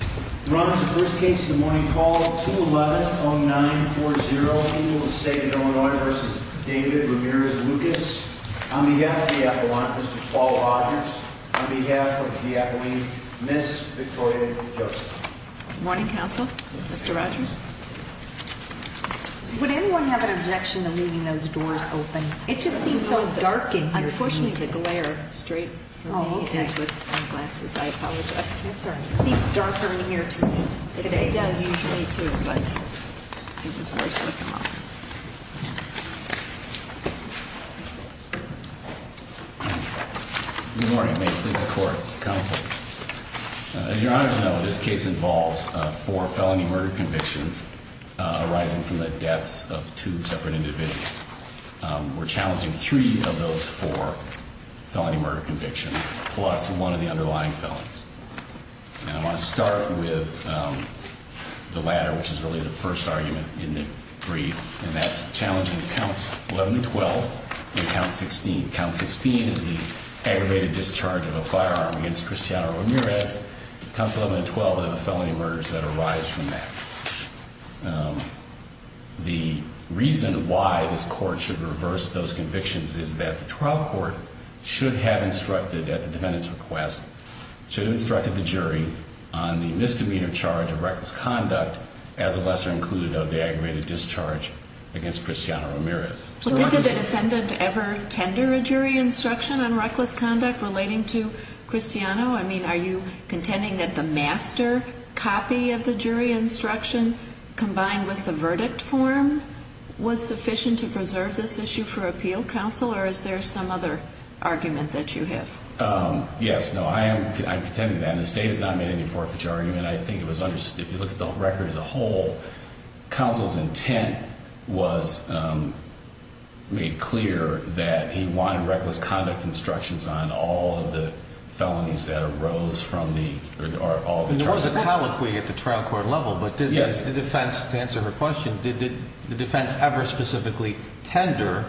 On behalf of the Appellant, Mr. Paul Rogers. On behalf of the Appellee, Ms. Victoria Joseph. Good morning, Counsel. Mr. Rogers. Would anyone have an objection to leaving those doors open? It just seems so dark and unfortunately to glare straight for me is with sunglasses. I apologize. It seems darker in here to me. It does usually too, but it was worse when I came up. Good morning. May it please the Court, Counsel. As your Honors know, this case involves four felony murder convictions arising from the deaths of two separate individuals. We're challenging three of those four felony murder convictions, plus one of the underlying felons. And I want to start with the latter, which is really the first argument in the brief, and that's challenging counts 11 and 12 and count 16. Count 16 is the aggravated discharge of a firearm against Cristiano Ramirez. Counts 11 and 12 are the felony murders that arise from that. The reason why this Court should reverse those convictions is that the trial court should have instructed at the defendant's request, should have instructed the jury on the misdemeanor charge of reckless conduct as a lesser included of the aggravated discharge against Cristiano Ramirez. Did the defendant ever tender a jury instruction on reckless conduct relating to Cristiano? I mean, are you contending that the master copy of the jury instruction combined with the verdict form was sufficient to preserve this issue for appeal? Counsel, or is there some other argument that you have? Yes. No, I am contending that. And the State has not made any forfeiture argument. If you look at the record as a whole, counsel's intent was made clear that he wanted reckless conduct instructions on all of the felonies that arose from the, or all the charges. There was a colloquy at the trial court level, but did the defense, to answer her question, did the defense ever specifically tender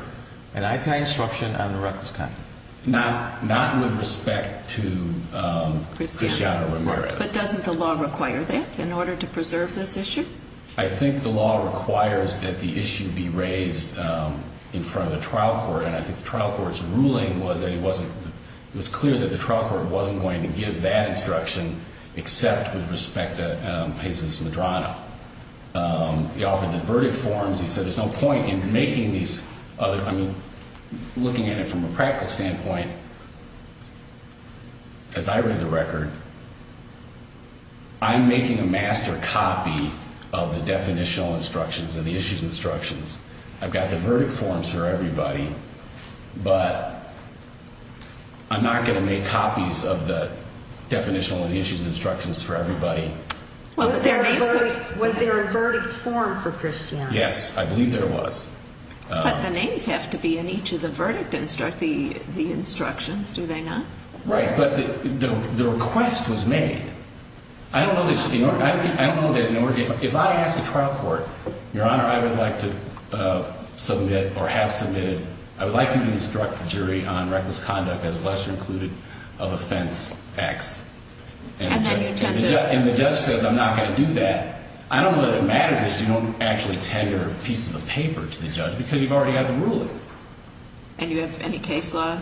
an IPI instruction on the reckless conduct? Not with respect to Cristiano Ramirez. But doesn't the law require that in order to preserve this issue? I think the law requires that the issue be raised in front of the trial court. And I think the trial court's ruling was that it wasn't, it was clear that the trial court wasn't going to give that instruction except with respect to Jesus Medrano. He offered the verdict forms. He said there's no point in making these other, I mean, looking at it from a practical standpoint, as I read the record, I'm making a master copy of the definitional instructions and the issues instructions. I've got the verdict forms for everybody, but I'm not going to make copies of the definitional and the issues instructions for everybody. Was there a verdict form for Cristiano? Yes, I believe there was. But the names have to be in each of the verdict instructions, do they not? Right, but the request was made. I don't know that in order, if I ask a trial court, Your Honor, I would like to submit or have submitted, I would like you to instruct the jury on reckless conduct as lesser included of offense X. And the judge says I'm not going to do that. I don't know that it matters that you don't actually tender pieces of paper to the judge because you've already had the ruling. And you have any case law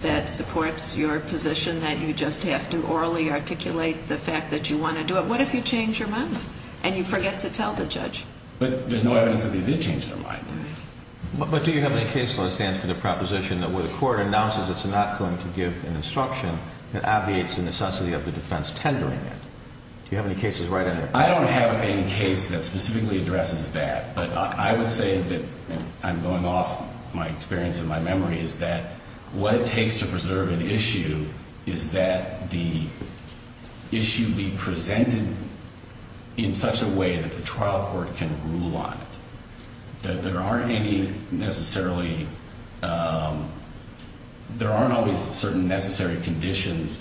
that supports your position that you just have to orally articulate the fact that you want to do it? What if you change your mind and you forget to tell the judge? But there's no evidence that they did change their mind. But do you have any case law that stands for the proposition that where the court announces it's not going to give an instruction, it obviates the necessity of the defense tendering it? Do you have any cases right under that? I don't have any case that specifically addresses that. But I would say that I'm going off my experience and my memory is that what it takes to preserve an issue is that the issue be presented in such a way that the trial court can rule on it. That there aren't any necessarily, there aren't always certain necessary conditions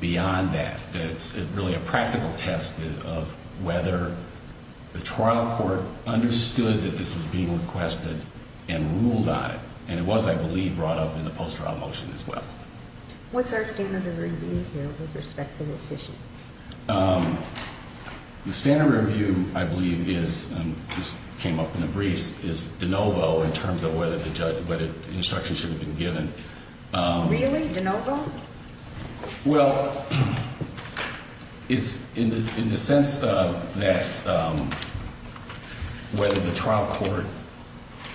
beyond that. That it's really a practical test of whether the trial court understood that this was being requested and ruled on it. And it was, I believe, brought up in the post-trial motion as well. What's our standard of review here with respect to this issue? The standard review, I believe, is, and this came up in the briefs, is de novo in terms of whether the instruction should have been given. Really? De novo? Well, it's in the sense that whether the trial court,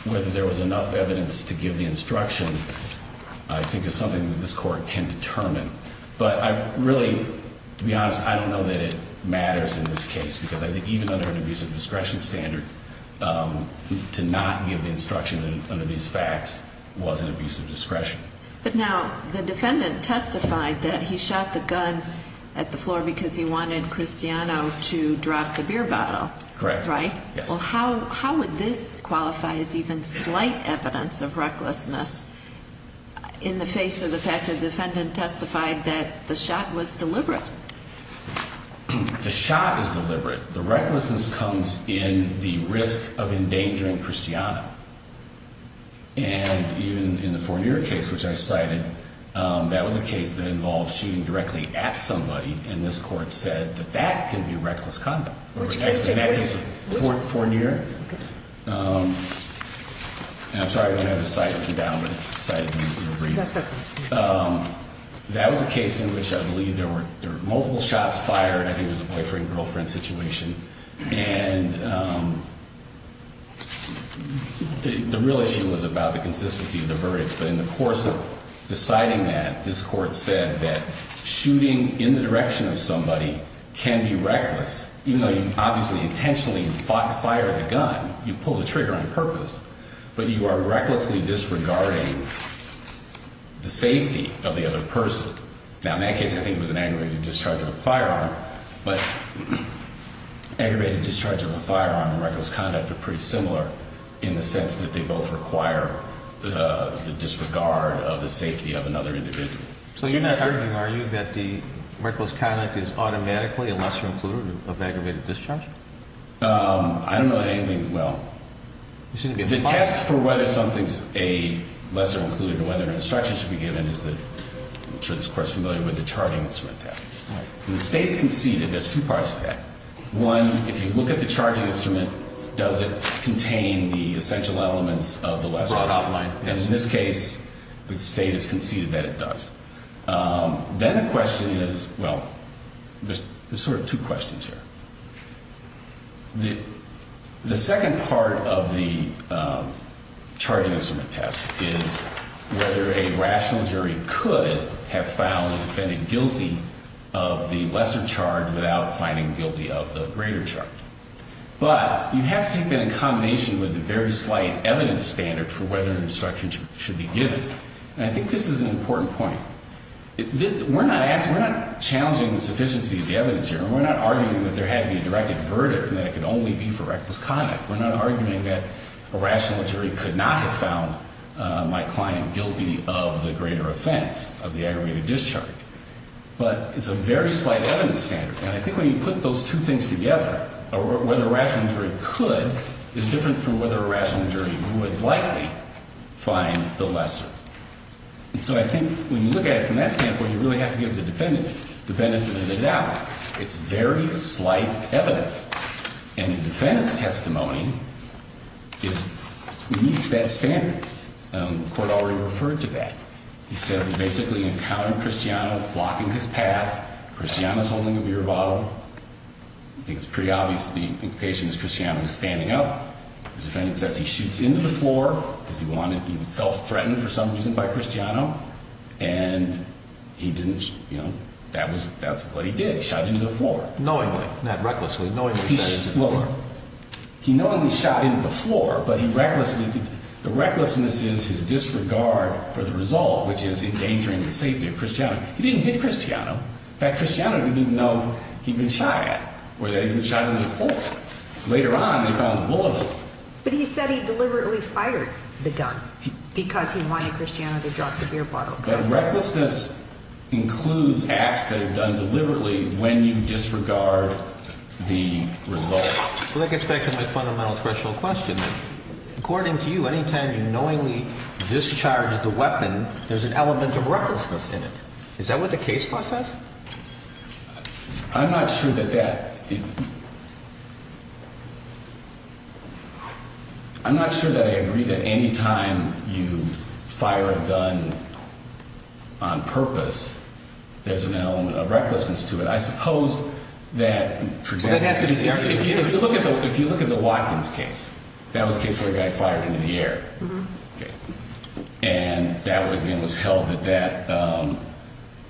whether there was enough evidence to give the instruction, I think is something that this court can determine. But I really, to be honest, I don't know that it matters in this case. Because I think even under an abuse of discretion standard, to not give the instruction under these facts was an abuse of discretion. But now, the defendant testified that he shot the gun at the floor because he wanted Cristiano to drop the beer bottle. Correct. Right? Yes. Well, how would this qualify as even slight evidence of recklessness in the face of the fact that the defendant testified that the shot was deliberate? The shot is deliberate. The recklessness comes in the risk of endangering Cristiano. And even in the Fournier case, which I cited, that was a case that involved shooting directly at somebody. And this court said that that can be reckless conduct. Which case? Fournier. Okay. I'm sorry, I don't have a cite with me now, but it's cited in the brief. That's okay. That was a case in which I believe there were multiple shots fired. I think it was a boyfriend-girlfriend situation. And the real issue was about the consistency of the verdicts. But in the course of deciding that, this court said that shooting in the direction of somebody can be reckless. Even though you obviously intentionally fired the gun, you pulled the trigger on purpose. But you are recklessly disregarding the safety of the other person. Now, in that case, I think it was an aggravated discharge of a firearm. But aggravated discharge of a firearm and reckless conduct are pretty similar in the sense that they both require the disregard of the safety of another individual. So you're not arguing, are you, that the reckless conduct is automatically a lesser included of aggravated discharge? I don't know that anything is. The test for whether something is a lesser included or whether an instruction should be given is, I'm sure this court is familiar with, the charging instrument test. When the State's conceded, there's two parts to that. One, if you look at the charging instrument, does it contain the essential elements of the lesser included? And in this case, the State has conceded that it does. Then the question is, well, there's sort of two questions here. The second part of the charging instrument test is whether a rational jury could have found the defendant guilty of the lesser charge without finding guilty of the greater charge. But you have to take that in combination with the very slight evidence standard for whether an instruction should be given. And I think this is an important point. We're not challenging the sufficiency of the evidence here. We're not arguing that there had to be a directed verdict and that it could only be for reckless conduct. We're not arguing that a rational jury could not have found my client guilty of the greater offense of the aggravated discharge. But it's a very slight evidence standard. And I think when you put those two things together, whether a rational jury could is different from whether a rational jury would likely find the lesser. And so I think when you look at it from that standpoint, you really have to give the defendant the benefit of the doubt. It's very slight evidence. And the defendant's testimony meets that standard. The court already referred to that. He says he basically encountered Cristiano blocking his path. Cristiano's holding a beer bottle. I think it's pretty obvious the implication is Cristiano was standing up. The defendant says he shoots into the floor because he felt threatened for some reason by Cristiano. And he didn't, you know, that's what he did, shot into the floor. Knowingly, not recklessly, knowingly shot into the floor. He knowingly shot into the floor, but the recklessness is his disregard for the result, which is endangering the safety of Cristiano. He didn't hit Cristiano. In fact, Cristiano didn't even know he'd been shot at or that he'd been shot into the floor. Later on, they found the bullet hole. But he said he deliberately fired the gun because he wanted Cristiano to drop the beer bottle. But recklessness includes acts that are done deliberately when you disregard the result. Well, that gets back to my fundamental threshold question. According to you, any time you knowingly discharge the weapon, there's an element of recklessness in it. Is that what the case law says? I'm not sure that that. I'm not sure that I agree that any time you fire a gun on purpose, there's an element of recklessness to it. I suppose that, for example, if you look at if you look at the Watkins case, that was a case where a guy fired into the air. And that was held that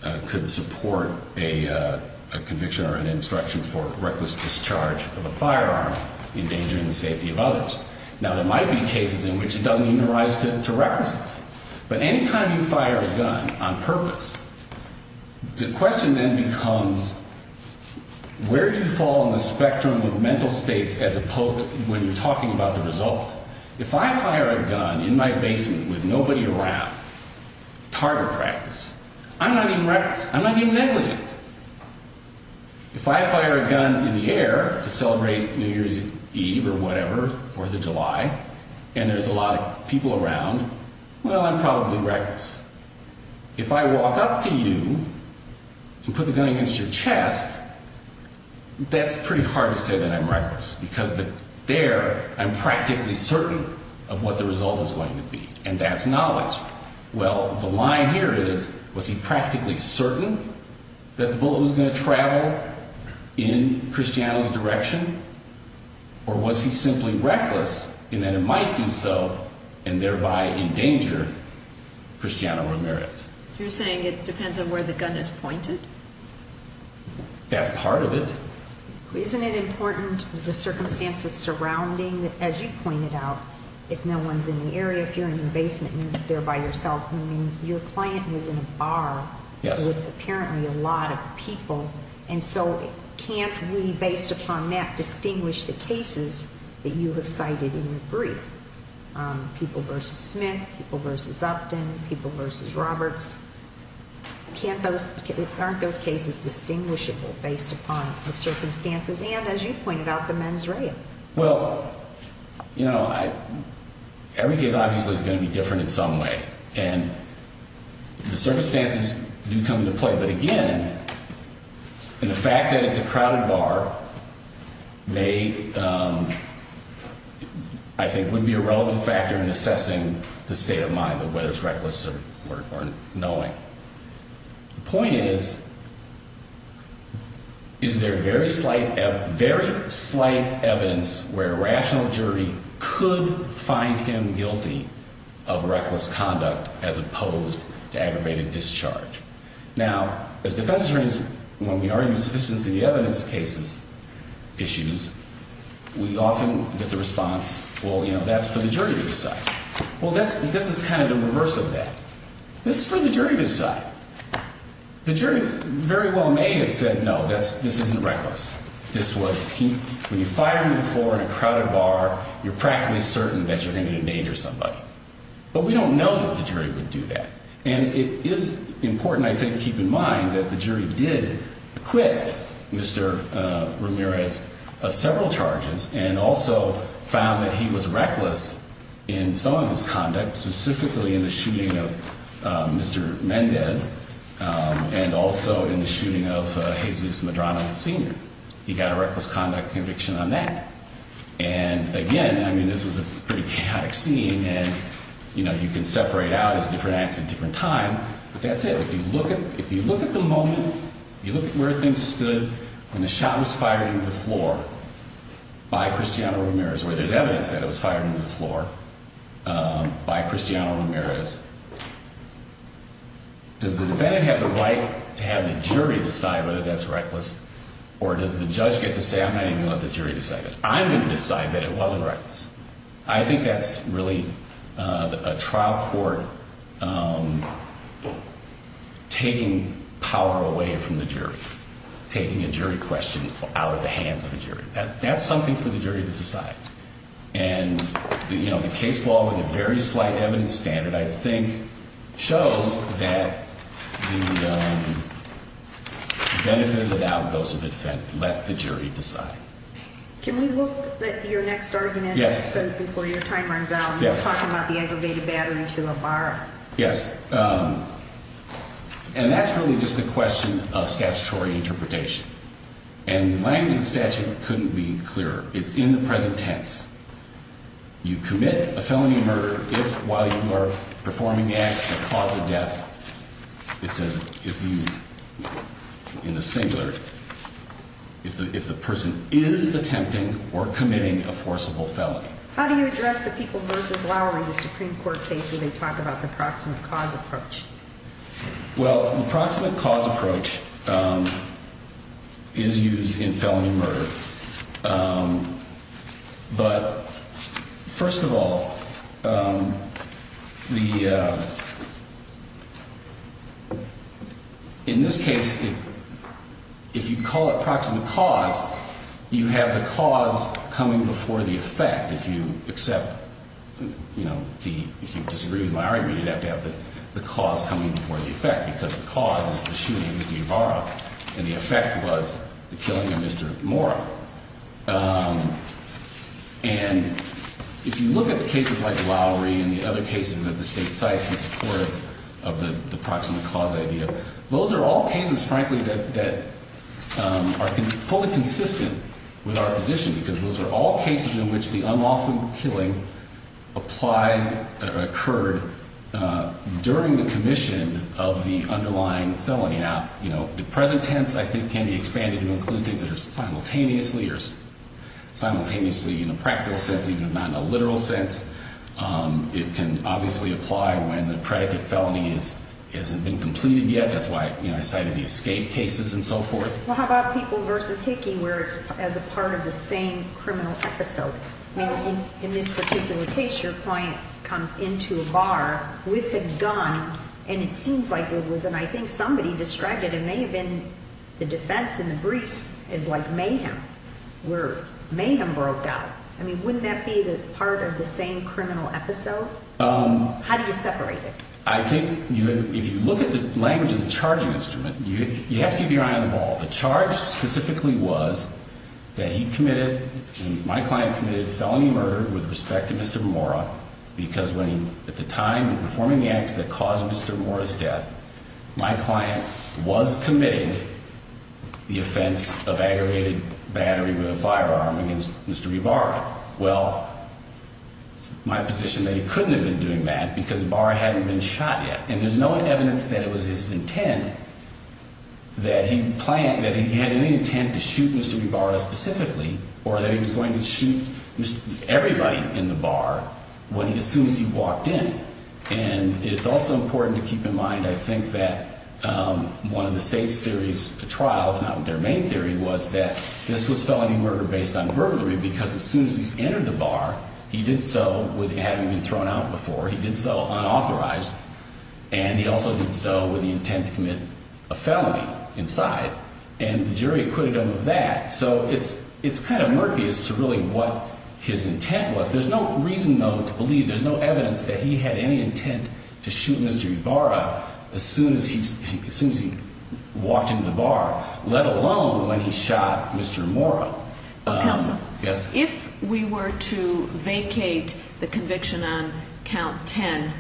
that could support a conviction or an instruction for reckless discharge of a firearm, endangering the safety of others. Now, there might be cases in which it doesn't even rise to recklessness. But any time you fire a gun on purpose, the question then becomes, where do you fall on the spectrum of mental states as opposed to when you're talking about the result? If I fire a gun in my basement with nobody around, it's hard to practice. I'm not even reckless. I'm not even negligent. If I fire a gun in the air to celebrate New Year's Eve or whatever, or the July, and there's a lot of people around, well, I'm probably reckless. If I walk up to you and put the gun against your chest, that's pretty hard to say that I'm reckless because there I'm practically certain of what the result is going to be. And that's knowledge. Well, the line here is, was he practically certain that the bullet was going to travel in Christiano's direction? Or was he simply reckless in that it might do so and thereby endanger Christiano Ramirez? You're saying it depends on where the gun is pointed? That's part of it. Isn't it important, the circumstances surrounding, as you pointed out, if no one's in the area, if you're in your basement and you're there by yourself, I mean, your client was in a bar with apparently a lot of people. And so can't we, based upon that, distinguish the cases that you have cited in your brief? People versus Smith, people versus Upton, people versus Roberts. Aren't those cases distinguishable based upon the circumstances and, as you pointed out, the men's rail? Well, you know, every case obviously is going to be different in some way. And the circumstances do come into play. But again, the fact that it's a crowded bar may, I think, would be a relevant factor in assessing the state of mind of whether it's reckless or knowing. The point is, is there very slight evidence where a rational jury could find him guilty of reckless conduct as opposed to aggravated discharge? Now, as defense attorneys, when we argue sufficiency of evidence cases, issues, we often get the response, well, you know, that's for the jury to decide. Well, this is kind of the reverse of that. This is for the jury to decide. The jury very well may have said, no, this isn't reckless. This was, when you fire him before in a crowded bar, you're practically certain that you're going to endanger somebody. But we don't know that the jury would do that. And it is important, I think, to keep in mind that the jury did acquit Mr. Ramirez of several charges and also found that he was reckless in some of his conduct, specifically in the shooting of Mr. Mendez and also in the shooting of Jesus Madrona Sr. He got a reckless conduct conviction on that. And again, I mean, this was a pretty chaotic scene and, you know, you can separate out his different acts at different times, but that's it. If you look at the moment, if you look at where things stood when the shot was fired into the floor by Cristiano Ramirez, where there's evidence that it was fired into the floor by Cristiano Ramirez, does the defendant have the right to have the jury decide whether that's reckless or does the judge get to say, I'm not even going to let the jury decide that? I'm going to decide that it wasn't reckless. I think that's really a trial court taking power away from the jury, taking a jury question out of the hands of a jury. That's something for the jury to decide. And, you know, the case law with a very slight evidence standard, I think, shows that the benefit of the doubt goes to the defendant. Let the jury decide. Can we look at your next argument? Yes. Before your time runs out. Yes. You were talking about the aggravated battery to Alvaro. Yes. And that's really just a question of statutory interpretation. And the language of the statute couldn't be clearer. It's in the present tense. You commit a felony murder if, while you are performing the act of cause of death, it says if you, in the singular, if the person is attempting or committing a forcible felony. How do you address the people versus Lowry, the Supreme Court case, when they talk about the proximate cause approach? Well, the approximate cause approach is used in felony murder. But first of all, the. In this case, if you call it proximate cause, you have the cause coming before the effect. If you accept, you know, if you disagree with my argument, you'd have to have the cause coming before the effect, because the cause is the shooting of Mr. Alvaro, and the effect was the killing of Mr. Mora. And if you look at the cases like Lowry and the other cases that the state cites in support of the proximate cause idea, those are all cases, frankly, that are fully consistent with our position. Because those are all cases in which the unlawful killing applied or occurred during the commission of the underlying felony. Now, you know, the present tense, I think, can be expanded to include things that are simultaneously or simultaneously in a practical sense, even if not in a literal sense. It can obviously apply when the predicate felony hasn't been completed yet. That's why I cited the escape cases and so forth. Well, how about people versus Hickey, where it's as a part of the same criminal episode? I mean, in this particular case, your client comes into a bar with a gun, and it seems like it was, and I think somebody distracted him. It may have been the defense in the briefs is like mayhem, where mayhem broke out. I mean, wouldn't that be the part of the same criminal episode? How do you separate it? I think if you look at the language of the charging instrument, you have to keep your eye on the ball. The charge specifically was that he committed, my client committed felony murder with respect to Mr. Mora because when he, at the time, was performing the acts that caused Mr. Mora's death, my client was committing the offense of aggregated battery with a firearm against Mr. Ibara. Well, my position is that he couldn't have been doing that because Ibara hadn't been shot yet. And there's no evidence that it was his intent that he planned, that he had any intent to shoot Mr. Ibara specifically or that he was going to shoot everybody in the bar when he assumes he walked in. And it's also important to keep in mind, I think, that one of the state's theories at trial, if not their main theory, was that this was felony murder based on burglary because as soon as he's entered the bar, he did so with having been thrown out before. He did so unauthorized. And he also did so with the intent to commit a felony inside. And the jury acquitted him of that. So it's kind of murky as to really what his intent was. There's no reason, though, to believe, there's no evidence that he had any intent to shoot Mr. Ibara as soon as he walked into the bar, let alone when he shot Mr. Mora. Counsel, if we were to vacate the conviction on count 10,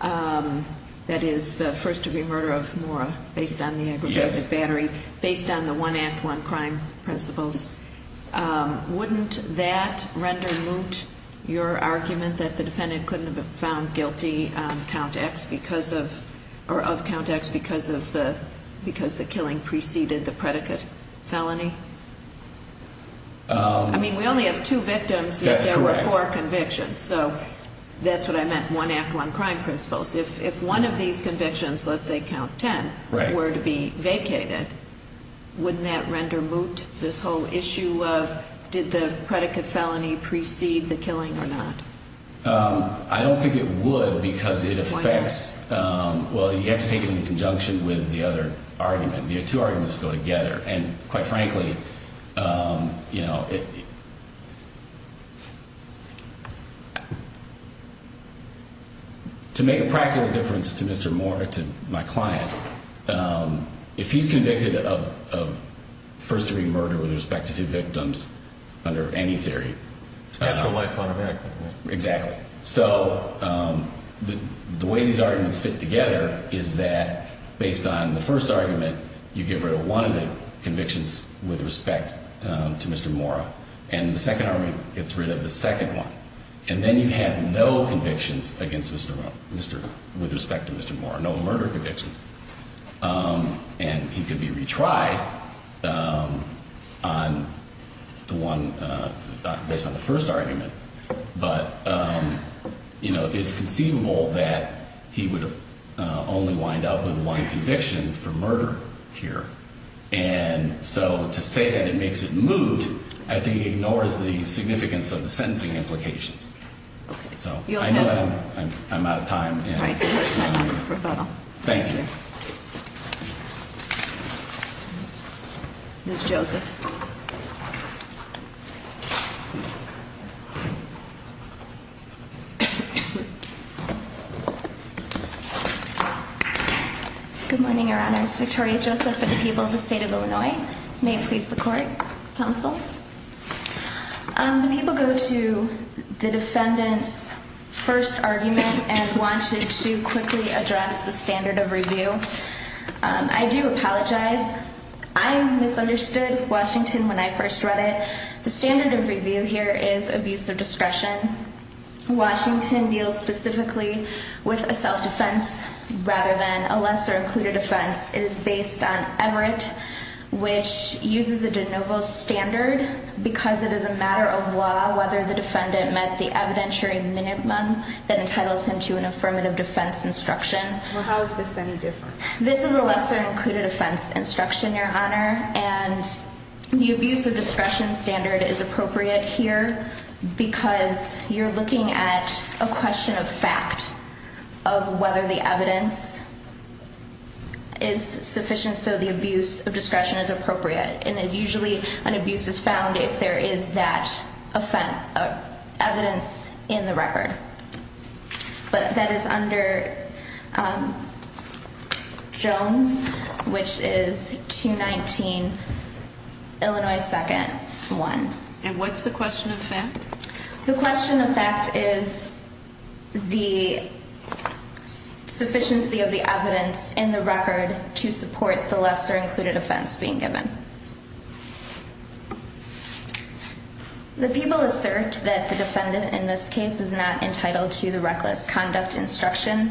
that is the first degree murder of Mora based on the aggravated battery, based on the one act, one crime principles, wouldn't that render moot your argument that the defendant couldn't have been found guilty on count X because of, or of count X because the killing preceded the predicate felony? I mean, we only have two victims. That's correct. Yet there were four convictions. So that's what I meant, one act, one crime principles. If one of these convictions, let's say count 10, were to be vacated, wouldn't that render moot this whole issue of did the predicate felony precede the killing or not? I don't think it would because it affects, well, you have to take it in conjunction with the other argument. The two arguments go together. And quite frankly, you know, to make a practical difference to Mr. Mora, to my client, if he's convicted of first degree murder with respect to two victims under any theory. It's a natural life on America. Exactly. So the way these arguments fit together is that based on the first argument, you get rid of one of the convictions with respect to Mr. Mora, and the second argument gets rid of the second one. And then you have no convictions against Mr. Mora, with respect to Mr. Mora, no murder convictions. And he could be retried on the one, based on the first argument. But, you know, it's conceivable that he would only wind up with one conviction for murder here. And so to say that it makes it moot, I think ignores the significance of the sentencing implications. So I know I'm out of time. Thank you. Ms. Joseph. Good morning, Your Honors. Victoria Joseph for the people of the state of Illinois. May it please the Court. Counsel. The people go to the defendant's first argument and wanted to quickly address the standard of review. I do apologize. I misunderstood Washington when I first read it. The standard of review here is abuse of discretion. Washington deals specifically with a self-defense rather than a lesser-included offense. It is based on Everett, which uses a de novo standard because it is a matter of law whether the defendant met the evidentiary minimum that entitles him to an affirmative defense instruction. Well, how is this any different? This is a lesser-included offense instruction, Your Honor. And the abuse of discretion standard is appropriate here because you're looking at a question of fact of whether the evidence is sufficient so the abuse of discretion is appropriate. And usually an abuse is found if there is that evidence in the record. But that is under Jones, which is 219, Illinois 2nd, 1. And what's the question of fact? The question of fact is the sufficiency of the evidence in the record to support the lesser-included offense being given. The people assert that the defendant in this case is not entitled to the reckless conduct instruction.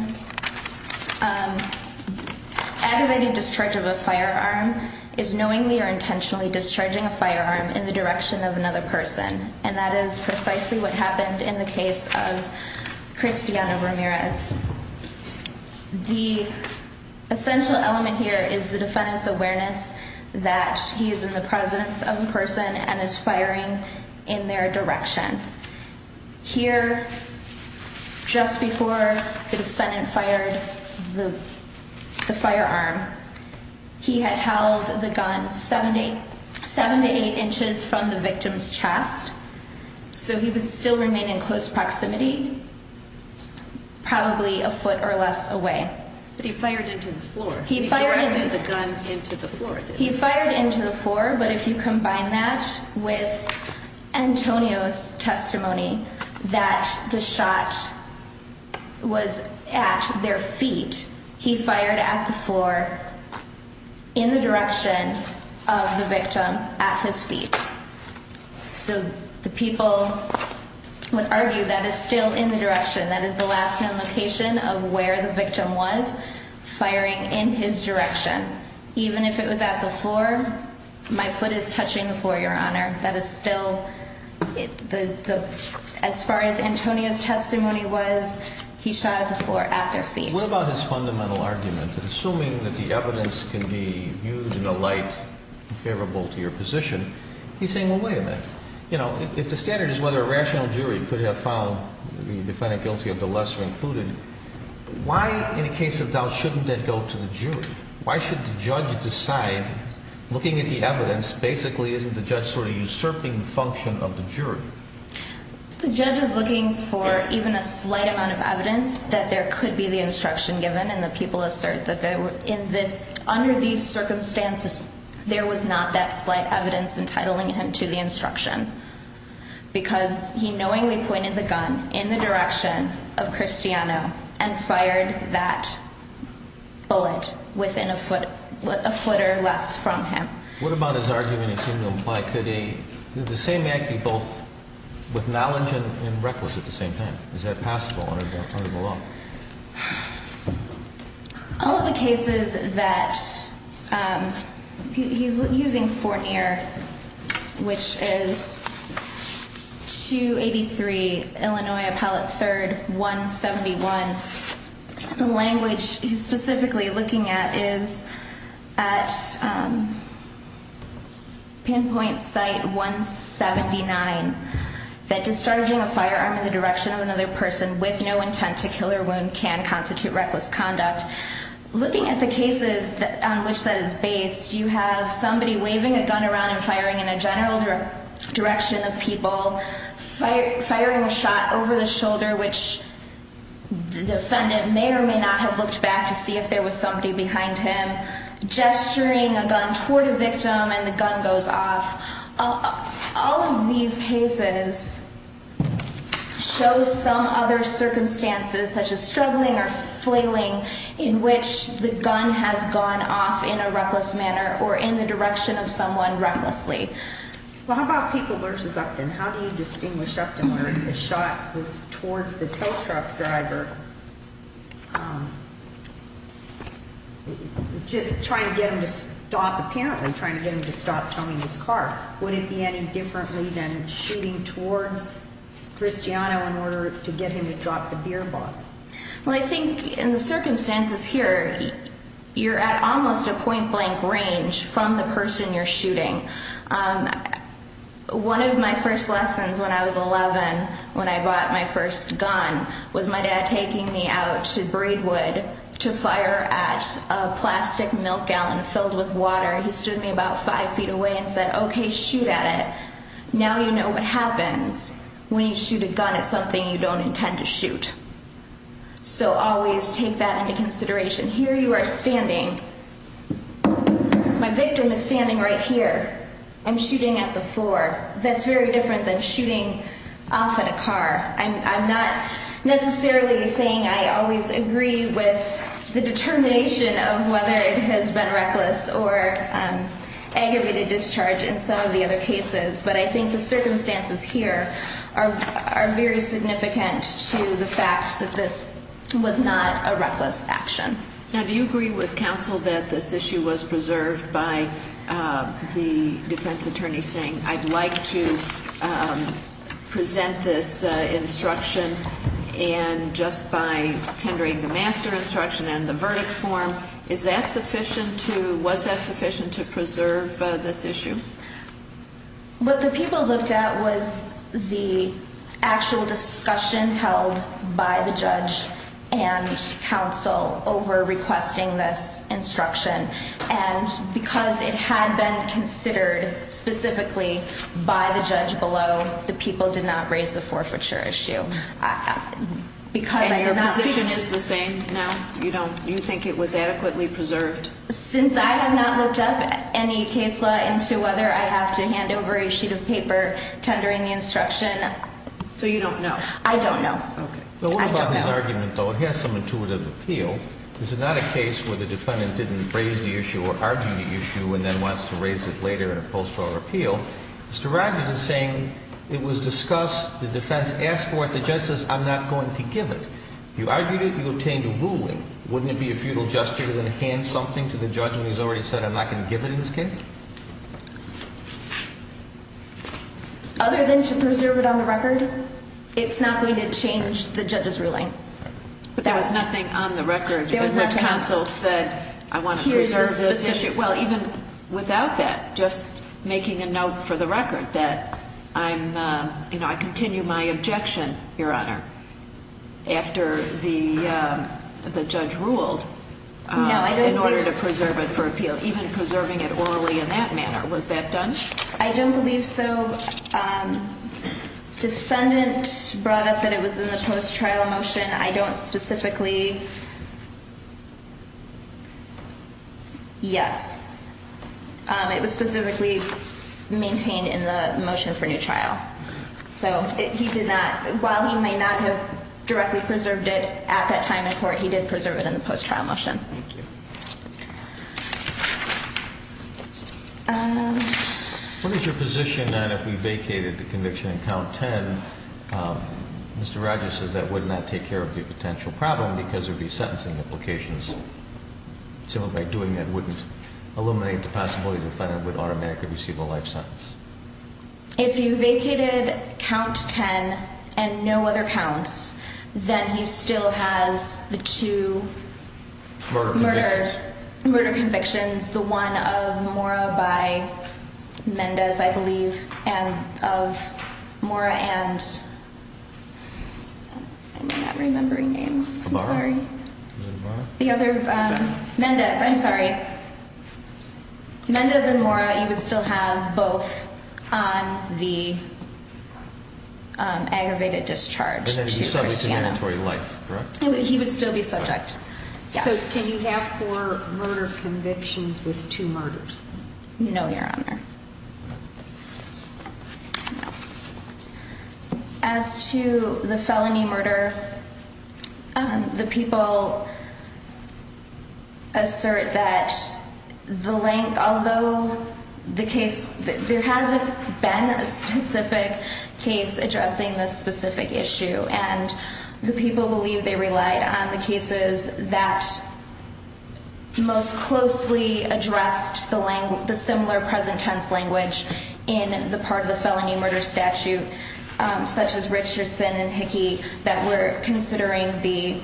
Activated discharge of a firearm is knowingly or intentionally discharging a firearm in the direction of another person. And that is precisely what happened in the case of Cristiano Ramirez. The essential element here is the defendant's awareness that he is in the presence of the person and is firing in their direction. Here, just before the defendant fired the firearm, he had held the gun 7 to 8 inches from the victim's chest. So he would still remain in close proximity, probably a foot or less away. But he fired into the floor. He directed the gun into the floor. He fired into the floor, but if you combine that with Antonio's testimony that the shot was at their feet, he fired at the floor in the direction of the victim at his feet. So the people would argue that is still in the direction, that is the last known location of where the victim was firing in his direction. Even if it was at the floor, my foot is touching the floor, Your Honor. That is still, as far as Antonio's testimony was, he shot at the floor at their feet. What about his fundamental argument? Assuming that the evidence can be used in a light and favorable to your position, he's saying, well, wait a minute. If the standard is whether a rational jury could have found the defendant guilty of the lesser included, why, in a case of doubt, shouldn't that go to the jury? Why should the judge decide, looking at the evidence, basically isn't the judge sort of usurping the function of the jury? The judge is looking for even a slight amount of evidence that there could be the instruction given, and the people assert that under these circumstances, there was not that slight evidence entitling him to the instruction. Because he knowingly pointed the gun in the direction of Cristiano and fired that bullet within a foot or less from him. What about his argument, assuming, why could the same act be both with knowledge and reckless at the same time? Is that passable under the law? All of the cases that he's using Fournier, which is 283, Illinois Appellate 3rd, 171, the language he's specifically looking at is at pinpoint site 179. That discharging a firearm in the direction of another person with no intent to kill or wound can constitute reckless conduct. Looking at the cases on which that is based, you have somebody waving a gun around and firing in a general direction of people. Firing a shot over the shoulder, which the defendant may or may not have looked back to see if there was somebody behind him. Gesturing a gun toward a victim and the gun goes off. All of these cases show some other circumstances such as struggling or flailing in which the gun has gone off in a reckless manner or in the direction of someone recklessly. Well, how about people versus Upton? How do you distinguish Upton where the shot was towards the tow truck driver? Just trying to get him to stop, apparently trying to get him to stop towing his car. Would it be any differently than shooting towards Cristiano in order to get him to drop the beer bottle? Well, I think in the circumstances here, you're at almost a point blank range from the person you're shooting. One of my first lessons when I was 11, when I bought my first gun, was my dad taking me out to Braidwood to fire at a plastic milk gallon filled with water. He stood me about five feet away and said, OK, shoot at it. Now you know what happens when you shoot a gun at something you don't intend to shoot. So always take that into consideration. Here you are standing. My victim is standing right here. I'm shooting at the floor. That's very different than shooting off in a car. I'm not necessarily saying I always agree with the determination of whether it has been reckless or aggravated discharge in some of the other cases. But I think the circumstances here are very significant to the fact that this was not a reckless action. Now, do you agree with counsel that this issue was preserved by the defense attorney saying I'd like to present this instruction? And just by tendering the master instruction and the verdict form, is that sufficient to, was that sufficient to preserve this issue? What the people looked at was the actual discussion held by the judge and counsel over requesting this instruction. And because it had been considered specifically by the judge below, the people did not raise the forfeiture issue. And your position is the same now? You think it was adequately preserved? Since I have not looked up any case law into whether I have to hand over a sheet of paper tendering the instruction. So you don't know? I don't know. Okay. But what about this argument, though? It has some intuitive appeal. This is not a case where the defendant didn't raise the issue or argue the issue and then wants to raise it later in a post-trial appeal. Mr. Rodgers is saying it was discussed, the defense asked for it, the judge says I'm not going to give it. You argued it, you obtained a ruling. Wouldn't it be a futile gesture to then hand something to the judge when he's already said I'm not going to give it in this case? Other than to preserve it on the record, it's not going to change the judge's ruling. But there was nothing on the record. There was nothing on the record. Counsel said I want to preserve this issue. Well, even without that, just making a note for the record that I'm, you know, I continue my objection, Your Honor, after the judge ruled in order to preserve it for appeal, even preserving it orally in that manner. Was that done? I don't believe so. Defendant brought up that it was in the post-trial motion. I don't specifically. Yes. It was specifically maintained in the motion for new trial. So he did not, while he may not have directly preserved it at that time in court, he did preserve it in the post-trial motion. Thank you. What is your position that if we vacated the conviction in count 10, Mr. Rogers says that would not take care of the potential problem because there would be sentencing implications. So by doing that, wouldn't eliminate the possibility the defendant would automatically receive a life sentence? If you vacated count 10 and no other counts, then he still has the two murder convictions, the one of Mora by Mendes, I believe, and of Mora and I'm not remembering names. I'm sorry. The other Mendes. I'm sorry. Mendes and Mora, you would still have both on the aggravated discharge to Christiana. He would still be subject. So can you have four murder convictions with two murders? No, Your Honor. As to the felony murder, the people assert that the length, although the case, there hasn't been a specific case addressing this specific issue. And the people believe they relied on the cases that most closely addressed the similar present tense language in the part of the felony murder statute, such as Richardson and Hickey, that were considering the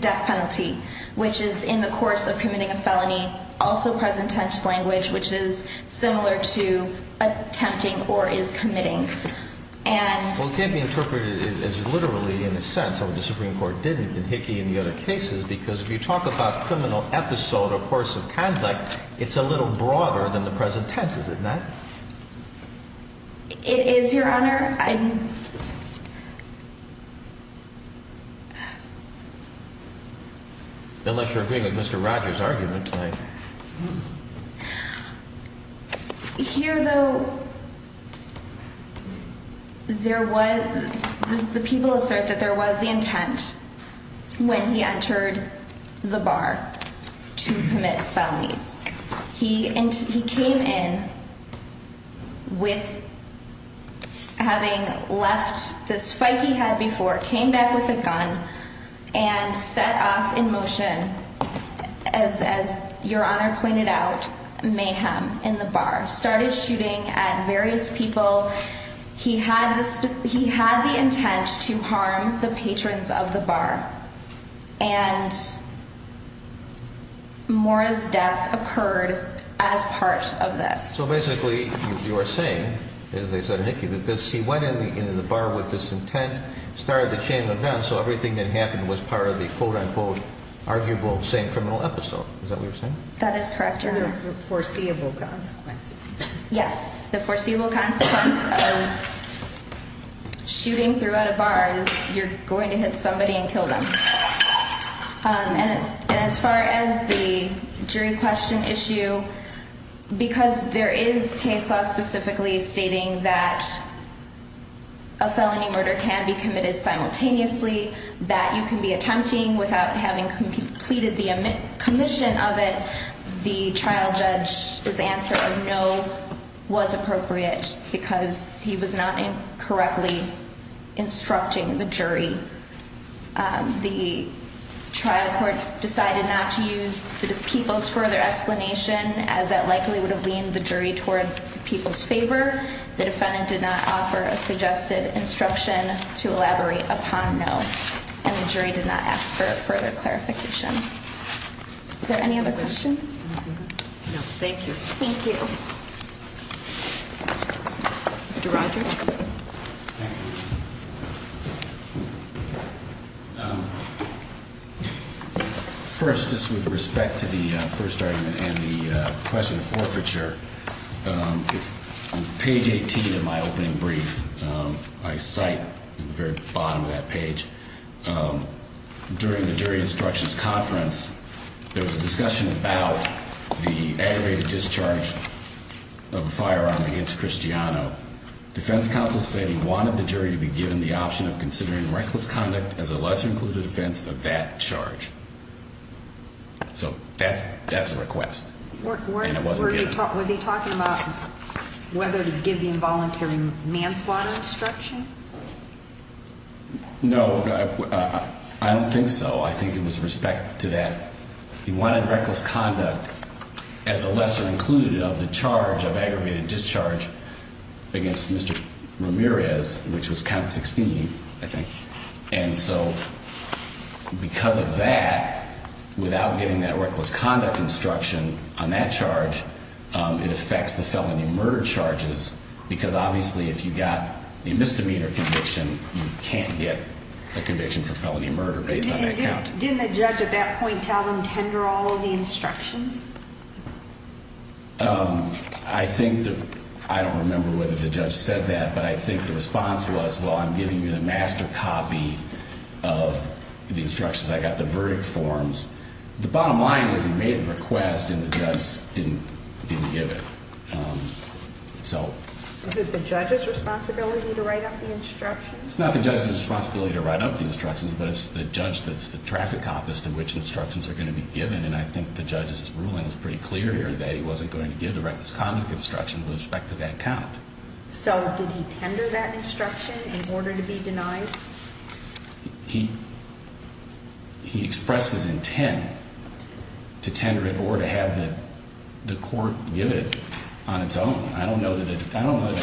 death penalty, which is in the course of committing a felony, also present tense language, which is similar to attempting or is committing. And. Well, it can't be interpreted as literally in a sense, or the Supreme Court didn't in Hickey and the other cases, because if you talk about criminal episode or course of conduct, it's a little broader than the present tense, is it not? It is, Your Honor. I'm. Unless you're agreeing with Mr. Rogers argument. Here, though. There was the people assert that there was the intent when he entered the bar to commit felonies. He came in. With. Having left this fight he had before, came back with a gun and set off in motion as as Your Honor pointed out, mayhem in the bar started shooting at various people. He had this. He had the intent to harm the patrons of the bar. And. Morris death occurred as part of this. So basically you are saying, as they said, Hickey, that this he went into the bar with this intent, started the chain of events. So everything that happened was part of the quote unquote arguable same criminal episode. Is that what you're saying? That is correct. Your foreseeable consequences. Yes. The foreseeable consequence of shooting throughout a bar is you're going to hit somebody and kill them. And as far as the jury question issue, because there is case law specifically stating that. A felony murder can be committed simultaneously that you can be attempting without having completed the commission of it. The trial judge is answer. No. Was appropriate because he was not correctly instructing the jury. The trial court decided not to use the people's further explanation as that likely would have leaned the jury toward people's favor. The defendant did not offer a suggested instruction to elaborate upon. No. And the jury did not ask for further clarification. Any other questions? No. Thank you. Thank you. Mr. Rogers. First, just with respect to the first argument and the question of forfeiture. Page 18 of my opening brief, I cite the very bottom of that page. During the jury instructions conference, there was a discussion about the aggravated discharge of a firearm against Cristiano. Defense counsel said he wanted the jury to be given the option of considering reckless conduct as a lesser included offense of that charge. So that's that's a request. And it wasn't talking about whether to give the involuntary manslaughter instruction. No, I don't think so. I think it was respect to that. He wanted reckless conduct as a lesser included of the charge of aggravated discharge against Mr. Ramirez, which was count 16. I think. And so because of that, without getting that reckless conduct instruction on that charge, it affects the felony murder charges. Because obviously, if you got a misdemeanor conviction, you can't get a conviction for felony murder based on that count. Didn't the judge at that point tell him tender all of the instructions? I think that I don't remember whether the judge said that, but I think the response was, well, I'm giving you the master copy of the instructions. I got the verdict forms. The bottom line is he made the request and the judge didn't give it. So is it the judge's responsibility to write up the instructions? It's not the judge's responsibility to write up the instructions, but it's the judge that's the traffic cop as to which instructions are going to be given. And I think the judge's ruling was pretty clear here that he wasn't going to give the reckless conduct instruction with respect to that count. So did he tender that instruction in order to be denied? He. He expressed his intent to tender it or to have the court give it on its own. I don't know that I don't know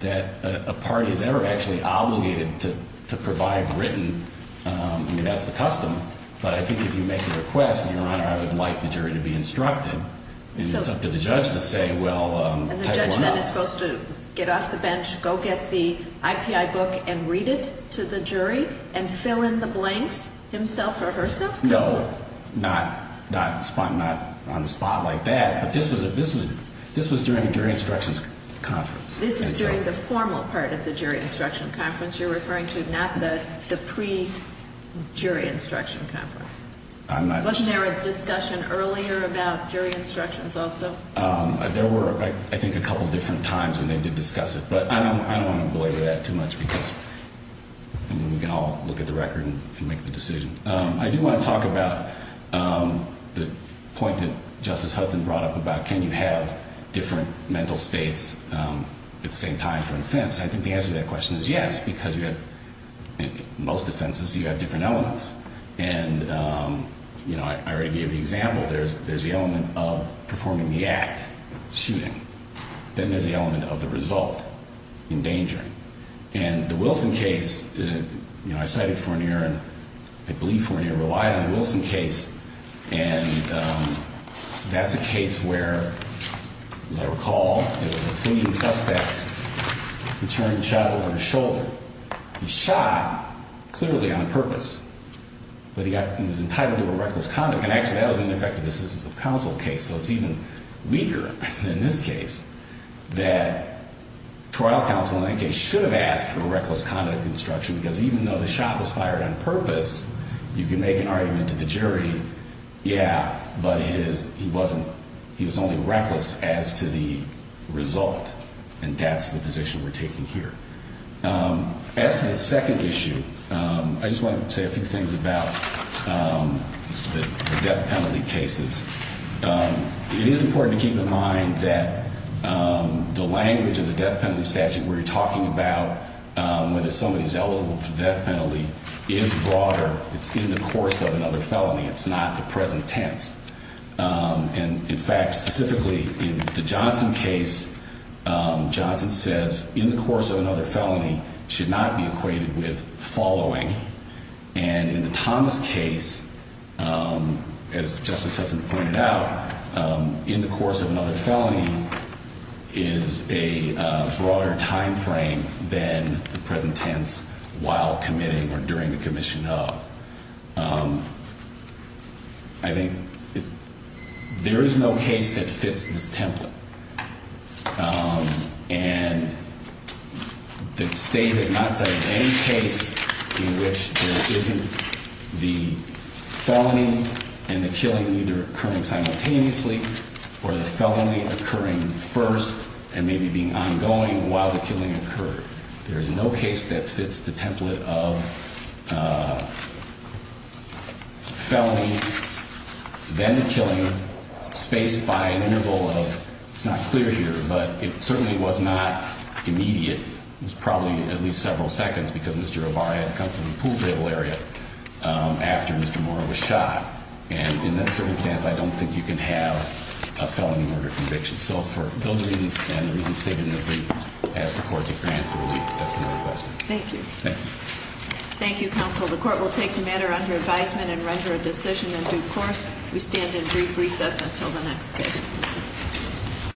that a party is ever actually obligated to provide written. I mean, that's the custom. But I think if you make a request, Your Honor, I would like the jury to be instructed. And it's up to the judge to say, well, type one up. And the judge then is supposed to get off the bench, go get the IPI book and read it to the jury and fill in the blanks himself or herself? No, not on the spot like that. But this was during the jury instructions conference. This is during the formal part of the jury instruction conference you're referring to, not the pre-jury instruction conference. Wasn't there a discussion earlier about jury instructions also? There were, I think, a couple of different times when they did discuss it. But I don't want to belabor that too much because then we can all look at the record and make the decision. I do want to talk about the point that Justice Hudson brought up about can you have different mental states at the same time for offense. I think the answer to that question is yes, because you have, in most offenses, you have different elements. And I already gave the example. There's the element of performing the act, shooting. Then there's the element of the result, endangering. And the Wilson case, I cited Fournier and I believe Fournier relied on the Wilson case. And that's a case where, as I recall, there was a fleeing suspect who turned and shot over his shoulder. He shot clearly on purpose, but he was entitled to a reckless conduct. And actually, that was an effective assistance of counsel case. So it's even weaker in this case that trial counsel in that case should have asked for a reckless conduct instruction. Because even though the shot was fired on purpose, you can make an argument to the jury, yeah, but he was only reckless as to the result. And that's the position we're taking here. As to the second issue, I just want to say a few things about the death penalty cases. It is important to keep in mind that the language of the death penalty statute we're talking about, whether somebody is eligible for death penalty, is broader. It's in the course of another felony. It's not the present tense. And in fact, specifically in the Johnson case, Johnson says in the course of another felony should not be equated with following. And in the Thomas case, as Justice Hudson pointed out, in the course of another felony is a broader timeframe than the present tense while committing or during the commission of. I think there is no case that fits this template. And the state has not cited any case in which there isn't the felony and the killing either occurring simultaneously or the felony occurring first and maybe being ongoing while the killing occurred. There is no case that fits the template of felony, then the killing, spaced by an interval of, it's not clear here, but it certainly was not immediate. It was probably at least several seconds because Mr. O'Barr had come from the pool table area after Mr. Moore was shot. And in that circumstance, I don't think you can have a felony murder conviction. So for those reasons and the reasons stated in the brief, I ask the court to grant the relief that's been requested. Thank you. Thank you. Thank you, counsel. The court will take the matter under advisement and render a decision in due course. We stand in brief recess until the next case.